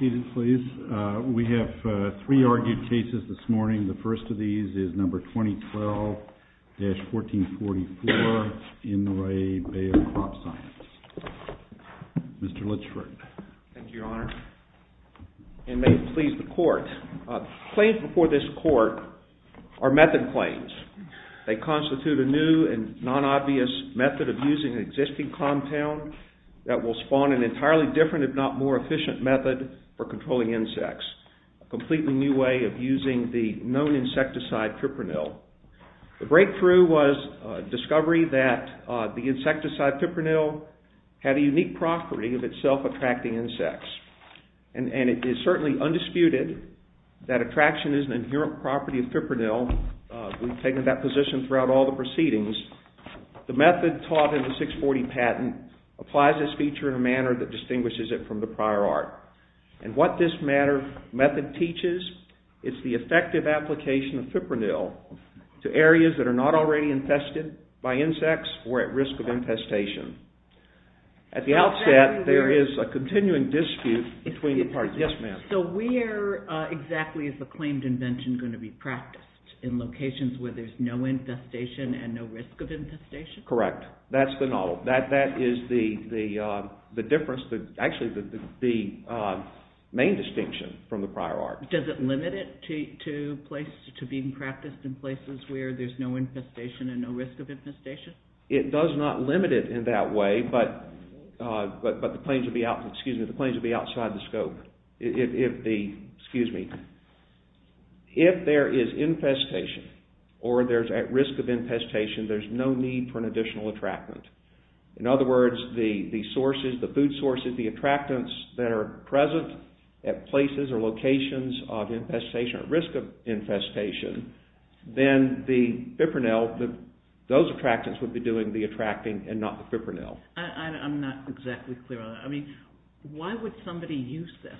We have three argued cases this morning. The first of these is number 2012-1444 IN RE BAYER CROPSCIENCE. Mr. Litchford. Thank you, Your Honor. And may it please the Court. Claims before this Court are method claims. They constitute a new and non-obvious method of using an existing compound that will spawn an entirely different, if not more efficient method for controlling insects. A completely new way of using the known insecticide Fipronil. The breakthrough was the discovery that the insecticide Fipronil had a unique property of itself attracting insects. And it is certainly undisputed that attraction is an inherent property of Fipronil. We've taken that position throughout all the proceedings. The method taught in the 640 patent applies this feature in a manner that distinguishes it from the prior art. And what this method teaches is the effective application of Fipronil to areas that are not already infested by insects or at risk of infestation. At the outset, there is a continuing dispute between the parties. Yes, ma'am. In locations where there's no infestation and no risk of infestation? Correct. That's the model. That is the difference. Actually, the main distinction from the prior art. Does it limit it to being practiced in places where there's no infestation and no risk of infestation? It does not limit it in that way, but the claims would be outside the scope. Excuse me. If there is infestation or there's at risk of infestation, there's no need for an additional attractant. In other words, the sources, the food sources, the attractants that are present at places or locations of infestation or risk of infestation, then the Fipronil, those attractants would be doing the attracting and not the Fipronil. I'm not exactly clear on that. I mean, why would somebody use this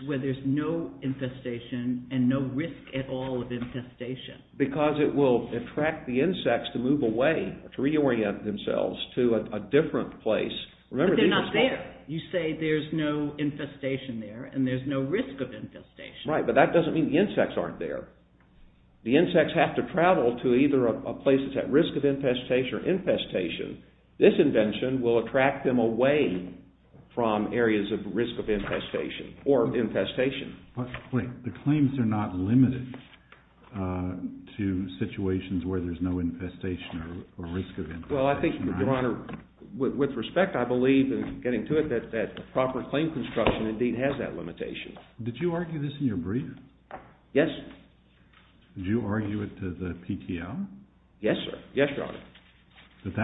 to where there's no infestation and no risk at all of infestation? Because it will attract the insects to move away, to reorient themselves to a different place. But they're not there. You say there's no infestation there and there's no risk of infestation. Right, but that doesn't mean the insects aren't there. The insects have to travel to either a place that's at risk of infestation or infestation. This invention will attract them away from areas of risk of infestation or infestation. Wait, the claims are not limited to situations where there's no infestation or risk of infestation, right? Well, I think, Your Honor, with respect, I believe in getting to it that proper claim construction indeed has that limitation. Did you argue this in your brief? Yes. Did you argue it to the PTL? Yes, sir. Yes, Your Honor. That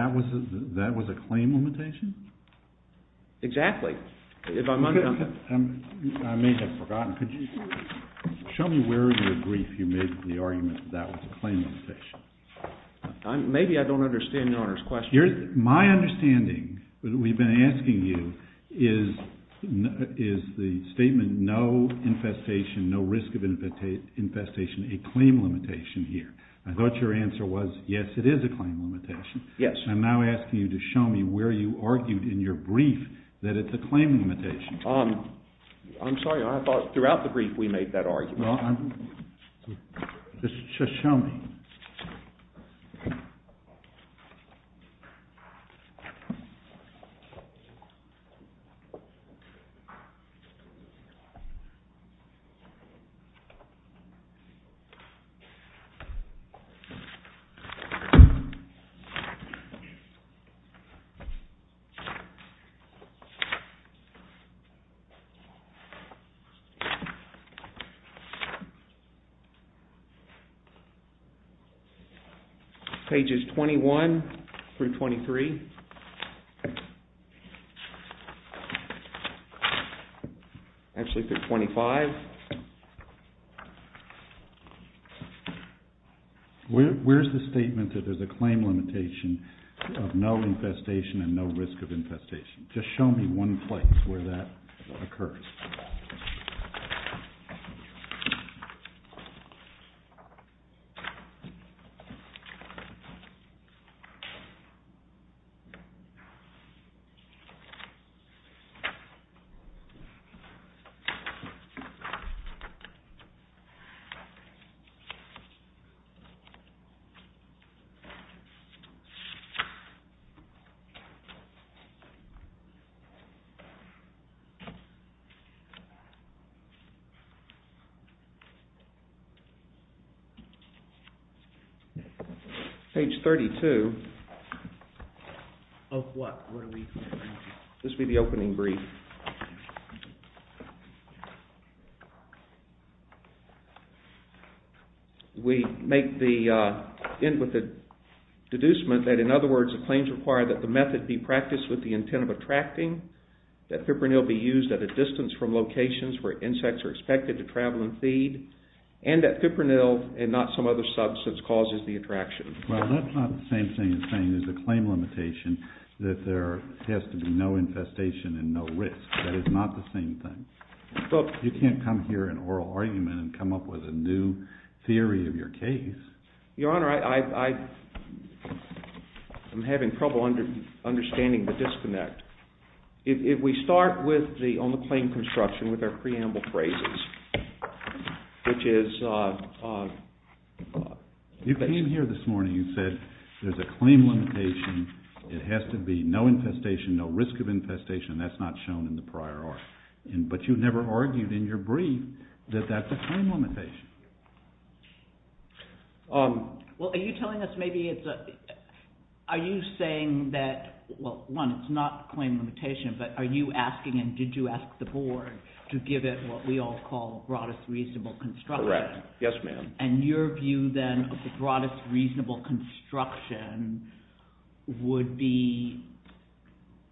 that was a claim limitation? Exactly. I may have forgotten. Could you show me where in your brief you made the argument that that was a claim limitation? Maybe I don't understand Your Honor's question. My understanding, we've been asking you, is the statement no infestation, no risk of infestation a claim limitation here? I thought your answer was, yes, it is a claim limitation. Yes. I'm now asking you to show me where you argued in your brief that it's a claim limitation. I'm sorry, Your Honor, I thought throughout the brief we made that argument. Just show me. Pages 21 through 23. Actually, page 25. Where's the statement that there's a claim limitation of no infestation and no risk of infestation? Just show me one place where that occurs. Okay. Okay. Okay. Okay. Okay. Okay. Page 32. Of what? This will be the opening brief. We make the end with the deducement that, in other words, the claims require that the method be practiced with the intent of attracting, that Fipronil be used at a distance from locations where insects are expected to travel and feed, and that Fipronil and not some other substance causes the attraction. Well, that's not the same thing as saying there's a claim limitation that there has to be no infestation and no risk. That is not the same thing. You can't come here in oral argument and come up with a new theory of your case. Your Honor, I'm having trouble understanding the disconnect. If we start on the claim construction with our preamble phrases, which is... You came here this morning. You said there's a claim limitation. It has to be no infestation, no risk of infestation. That's not shown in the prior art. But you never argued in your brief that that's a claim limitation. Well, are you telling us maybe it's a – are you saying that, well, one, it's not a claim limitation, but are you asking and did you ask the board to give it what we all call broadest reasonable construction? Correct. Yes, ma'am. And your view then of the broadest reasonable construction would be,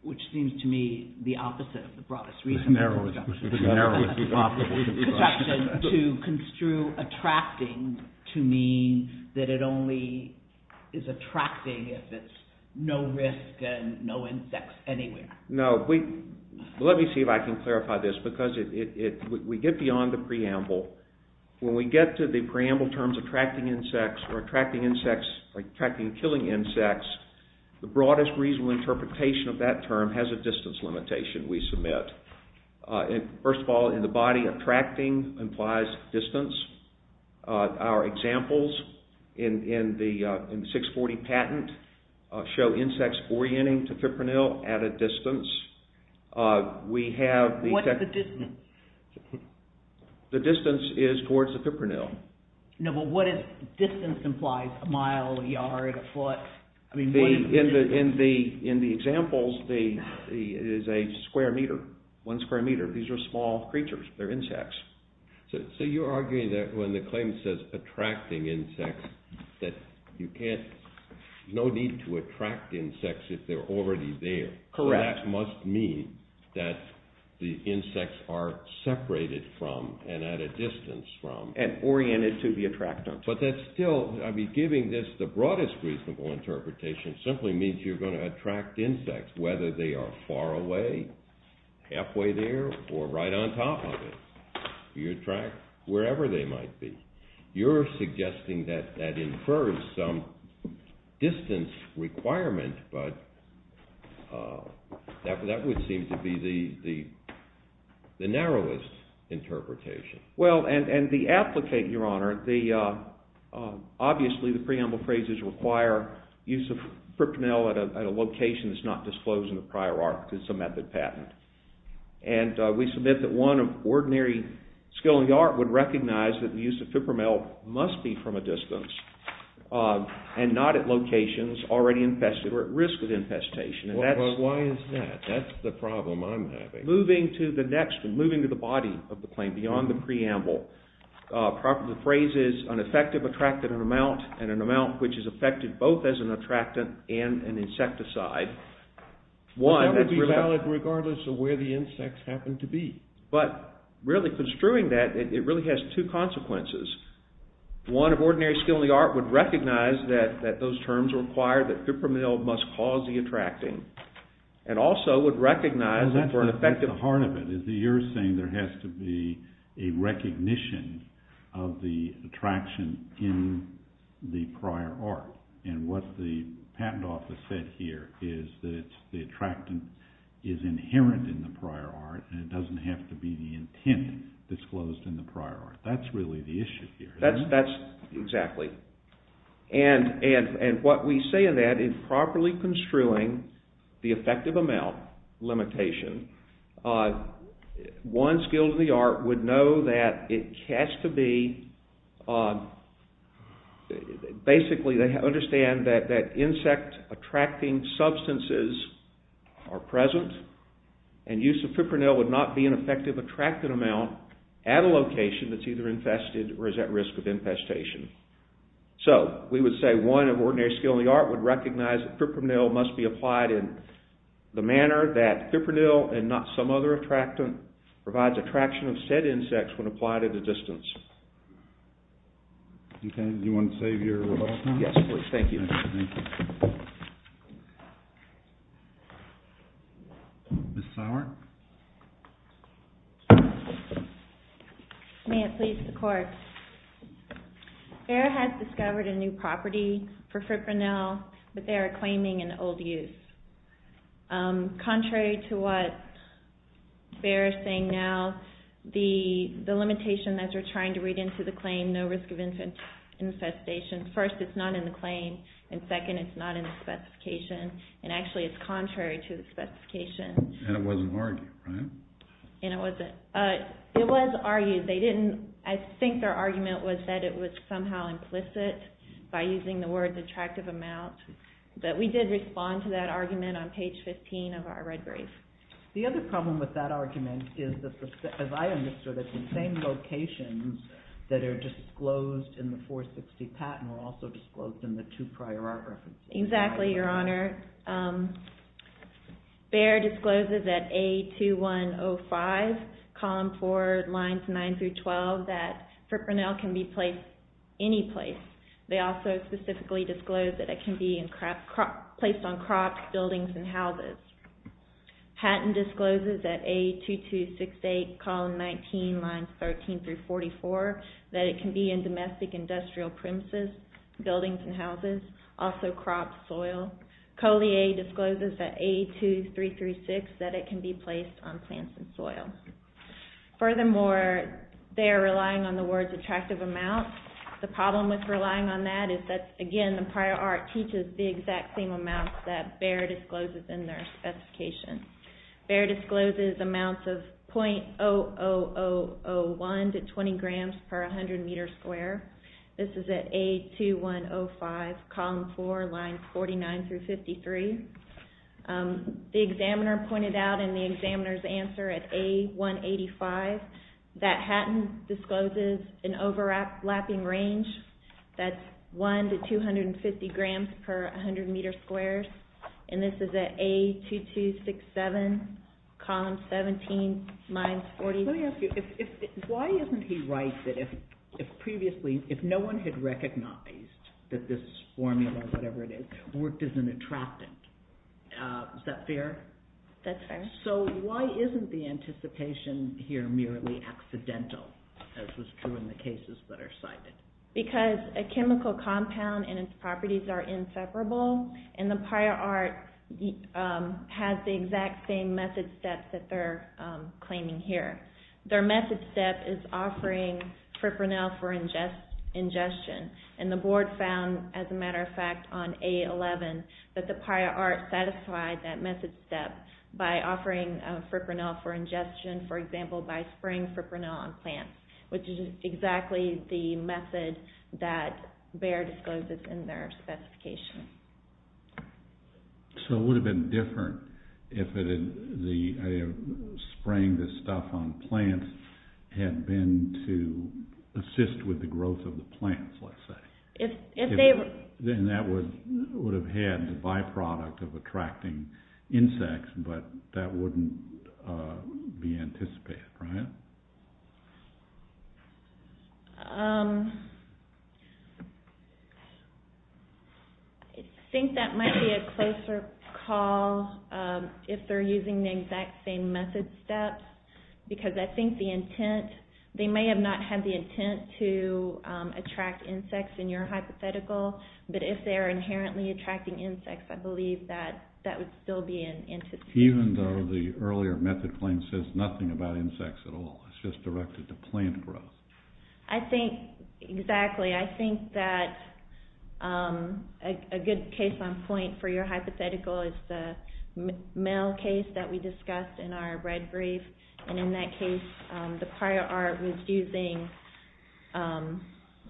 which seems to me the opposite of the broadest reasonable construction. Narrowest reasonable construction. To construe attracting to mean that it only is attracting if it's no risk and no insects anywhere. No. Let me see if I can clarify this because we get beyond the preamble. When we get to the preamble terms attracting insects or attracting insects – attracting and killing insects, the broadest reasonable interpretation of that term has a distance limitation we submit. First of all, in the body, attracting implies distance. Our examples in the 640 patent show insects orienting to fipronil at a distance. We have... What is the distance? The distance is towards the fipronil. No, but what is distance implies, a mile, a yard, a foot? In the examples, it is a square meter, one square meter. These are small creatures. They're insects. So you're arguing that when the claim says attracting insects that you can't – no need to attract insects if they're already there. Correct. That must mean that the insects are separated from and at a distance from... And oriented to be attracted. But that's still – I mean, giving this the broadest reasonable interpretation simply means you're going to attract insects, whether they are far away, halfway there, or right on top of it. You attract wherever they might be. You're suggesting that that infers some distance requirement, but that would seem to be the narrowest interpretation. Well, and the applicant, Your Honor, obviously the preamble phrases require use of fipronil at a location that's not disclosed in the prior art because it's a method patent. And we submit that one of ordinary skill in the art would recognize that the use of fipronil must be from a distance and not at locations already infested or at risk of infestation. Well, why is that? That's the problem I'm having. Moving to the next, moving to the body of the claim beyond the preamble, the phrase is an effective attractant amount and an amount which is effective both as an attractant and an insecticide. That would be valid regardless of where the insects happen to be. But really construing that, it really has two consequences. One, of ordinary skill in the art would recognize that those terms require that fipronil must cause the attracting and also would recognize that for an effective… is inherent in the prior art and it doesn't have to be the intent disclosed in the prior art. That's really the issue here. That's exactly. And what we say in that is properly construing the effective amount limitation, one skill in the art would know that it has to be… basically they understand that insect attracting substances are present and use of fipronil would not be an effective attractant amount at a location that's either infested or is at risk of infestation. So, we would say one of ordinary skill in the art would recognize that fipronil must be applied in the manner that fipronil and not some other attractant provides attraction of said insects when applied at a distance. Okay, do you want to save your rebuttal time? Yes, please. Thank you. Thank you. Ms. Sauer. May it please the court. BEHR has discovered a new property for fipronil but they are claiming an old use. Contrary to what BEHR is saying now, the limitation that you're trying to read into the claim, no risk of infestation, first it's not in the claim and second it's not in the specification and actually it's contrary to the specification. And it wasn't argued, right? By using the word attractive amount. But we did respond to that argument on page 15 of our red brief. The other problem with that argument is that, as I understood it, the same locations that are disclosed in the 460 patent were also disclosed in the two prior art references. Exactly, Your Honor. BEHR discloses that A2105, column 4, lines 9 through 12, that fipronil can be placed any place. They also specifically disclose that it can be placed on crops, buildings, and houses. Patent discloses that A2268, column 19, lines 13 through 44, that it can be in domestic industrial premises, buildings and houses, also crops, soil. Collier discloses that A2336, that it can be placed on plants and soil. Furthermore, they are relying on the words attractive amount. The problem with relying on that is that, again, the prior art teaches the exact same amount that BEHR discloses in their specification. BEHR discloses amounts of .00001 to 20 grams per 100 meter square. This is at A2105, column 4, lines 49 through 53. The examiner pointed out in the examiner's answer at A185, that Hatton discloses an overlapping range that's 1 to 250 grams per 100 meter square. And this is at A2267, column 17, lines 40. Let me ask you, why isn't he right that if previously, if no one had recognized that this formula, whatever it is, worked as an attractive, is that fair? That's fair. So why isn't the anticipation here merely accidental, as was true in the cases that are cited? Because a chemical compound and its properties are inseparable, and the prior art has the exact same method steps that they're claiming here. Their method step is offering fipronil for ingestion. And the board found, as a matter of fact, on A11, that the prior art satisfied that method step by offering fipronil for ingestion, for example, by spraying fipronil on plants. Which is exactly the method that Bayer discloses in their specification. So it would have been different if spraying this stuff on plants had been to assist with the growth of the plants, let's say. Then that would have had the byproduct of attracting insects, but that wouldn't be anticipated, right? I think that might be a closer call, if they're using the exact same method steps, because I think the intent, they may have not had the intent to attract insects in your hypothetical, but if they're inherently attracting insects, I believe that would still be an anticipation. Even though the earlier method claim says nothing about insects at all, it's just directed to plant growth. I think, exactly, I think that a good case on point for your hypothetical is the male case that we discussed in our red brief. And in that case, the prior art was using,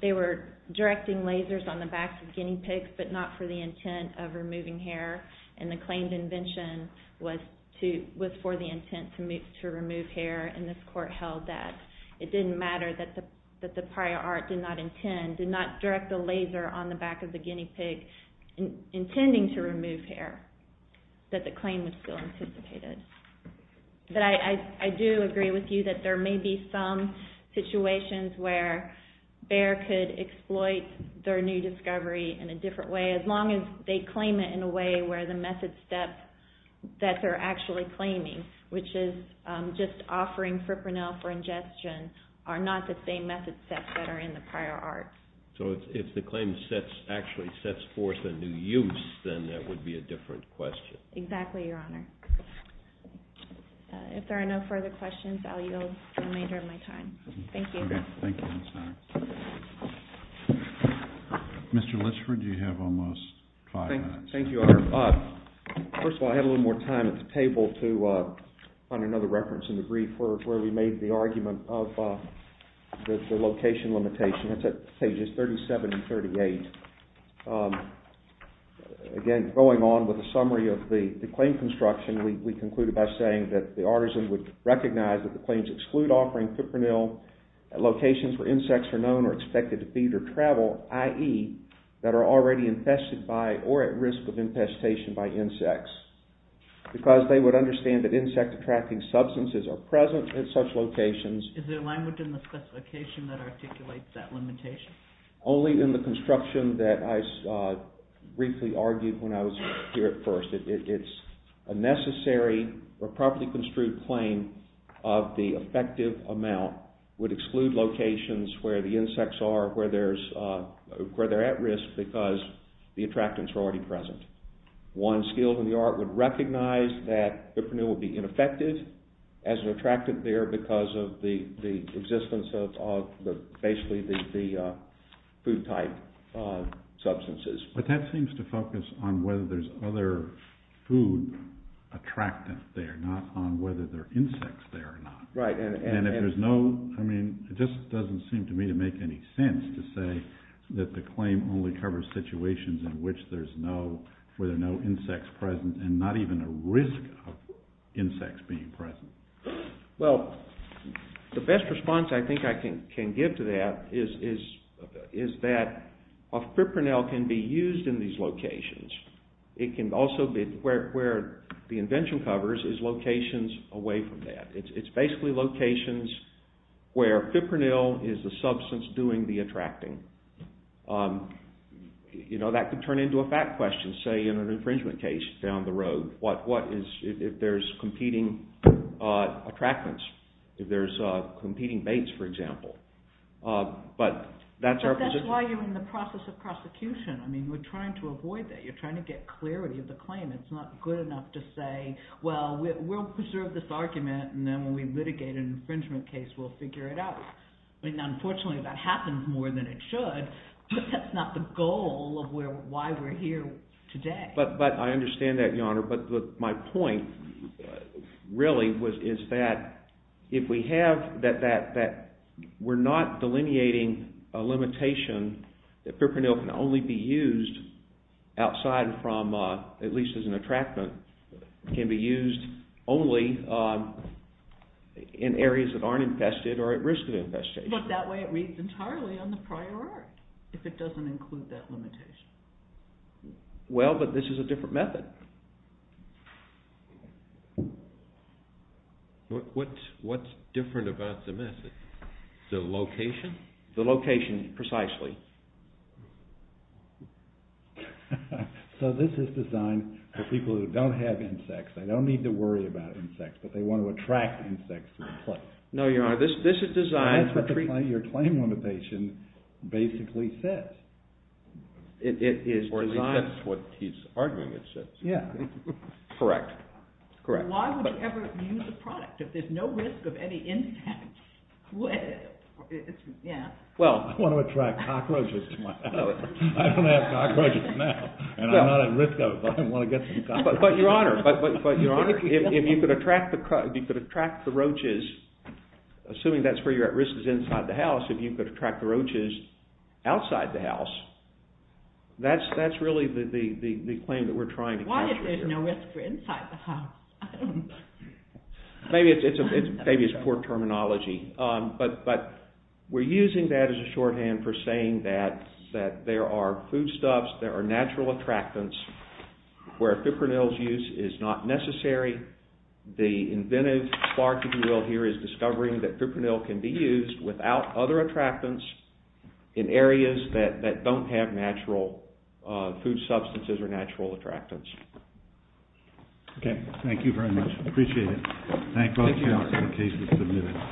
they were directing lasers on the backs of guinea pigs, but not for the intent of removing hair. And the claimed invention was for the intent to remove hair, and this court held that it didn't matter that the prior art did not intend, did not direct a laser on the back of the guinea pig, intending to remove hair. That the claim was still anticipated. But I do agree with you that there may be some situations where Bayer could exploit their new discovery in a different way, as long as they claim it in a way where the method steps that they're actually claiming, which is just offering fipronil for ingestion, are not the same method steps that are in the prior art. So if the claim actually sets forth a new use, then that would be a different question. Exactly, Your Honor. If there are no further questions, I'll yield the remainder of my time. Thank you. Thank you. Mr. Litchford, you have almost five minutes. Thank you, Your Honor. First of all, I had a little more time at the table to find another reference in the brief where we made the argument of the location limitation. It's at pages 37 and 38. Again, going on with the summary of the claim construction, we concluded by saying that the artisan would recognize that the claims exclude offering fipronil at locations where insects are known or expected to feed or travel, i.e., that are already infested by or at risk of infestation by insects. Because they would understand that insect-attracting substances are present at such locations. Is there language in the specification that articulates that limitation? Only in the construction that I briefly argued when I was here at first. It's a necessary or properly construed claim of the effective amount would exclude locations where the insects are at risk because the attractants are already present. One skilled in the art would recognize that fipronil would be ineffective as an attractant there because of the existence of basically the food-type substances. But that seems to focus on whether there's other food attractants there, not on whether there are insects there or not. Right. It just doesn't seem to me to make any sense to say that the claim only covers situations where there are no insects present and not even a risk of insects being present. Well, the best response I think I can give to that is that fipronil can be used in these locations. Where the invention covers is locations away from that. It's basically locations where fipronil is the substance doing the attracting. That could turn into a fact question, say, in an infringement case down the road. What if there's competing attractants? If there's competing baits, for example. But that's our position. But that's why you're in the process of prosecution. I mean, we're trying to avoid that. You're trying to get clarity of the claim. It's not good enough to say, well, we'll preserve this argument, and then when we litigate an infringement case, we'll figure it out. I mean, unfortunately, that happens more than it should, but that's not the goal of why we're here today. But I understand that, Your Honor. But my point really is that if we have that, we're not delineating a limitation that fipronil can only be used outside from, at least as an attractant. It can be used only in areas that aren't infested or at risk of infestation. But that way it reads entirely on the prior art, if it doesn't include that limitation. Well, but this is a different method. What's different about the method? The location? The location, precisely. So this is designed for people who don't have insects. They don't need to worry about insects, but they want to attract insects to the place. No, Your Honor, this is designed for... That's what your claim limitation basically says. It is designed... Or that's what he's arguing it says. Yeah. Correct. Correct. Why would you ever use a product if there's no risk of any insects? I want to attract cockroaches to my house. I don't have cockroaches now, and I'm not at risk of them, but I want to get some cockroaches. But, Your Honor, if you could attract the roaches, assuming that's where you're at risk is inside the house, if you could attract the roaches outside the house, that's really the claim that we're trying to capture here. Why is there no risk for inside the house? Maybe it's poor terminology, but we're using that as a shorthand for saying that there are foodstuffs, there are natural attractants, where Fipronil's use is not necessary. The inventive spark, if you will, here is discovering that Fipronil can be used without other attractants in areas that don't have natural food substances or natural attractants. Okay. Thank you very much. I appreciate it. Thank you, Your Honor.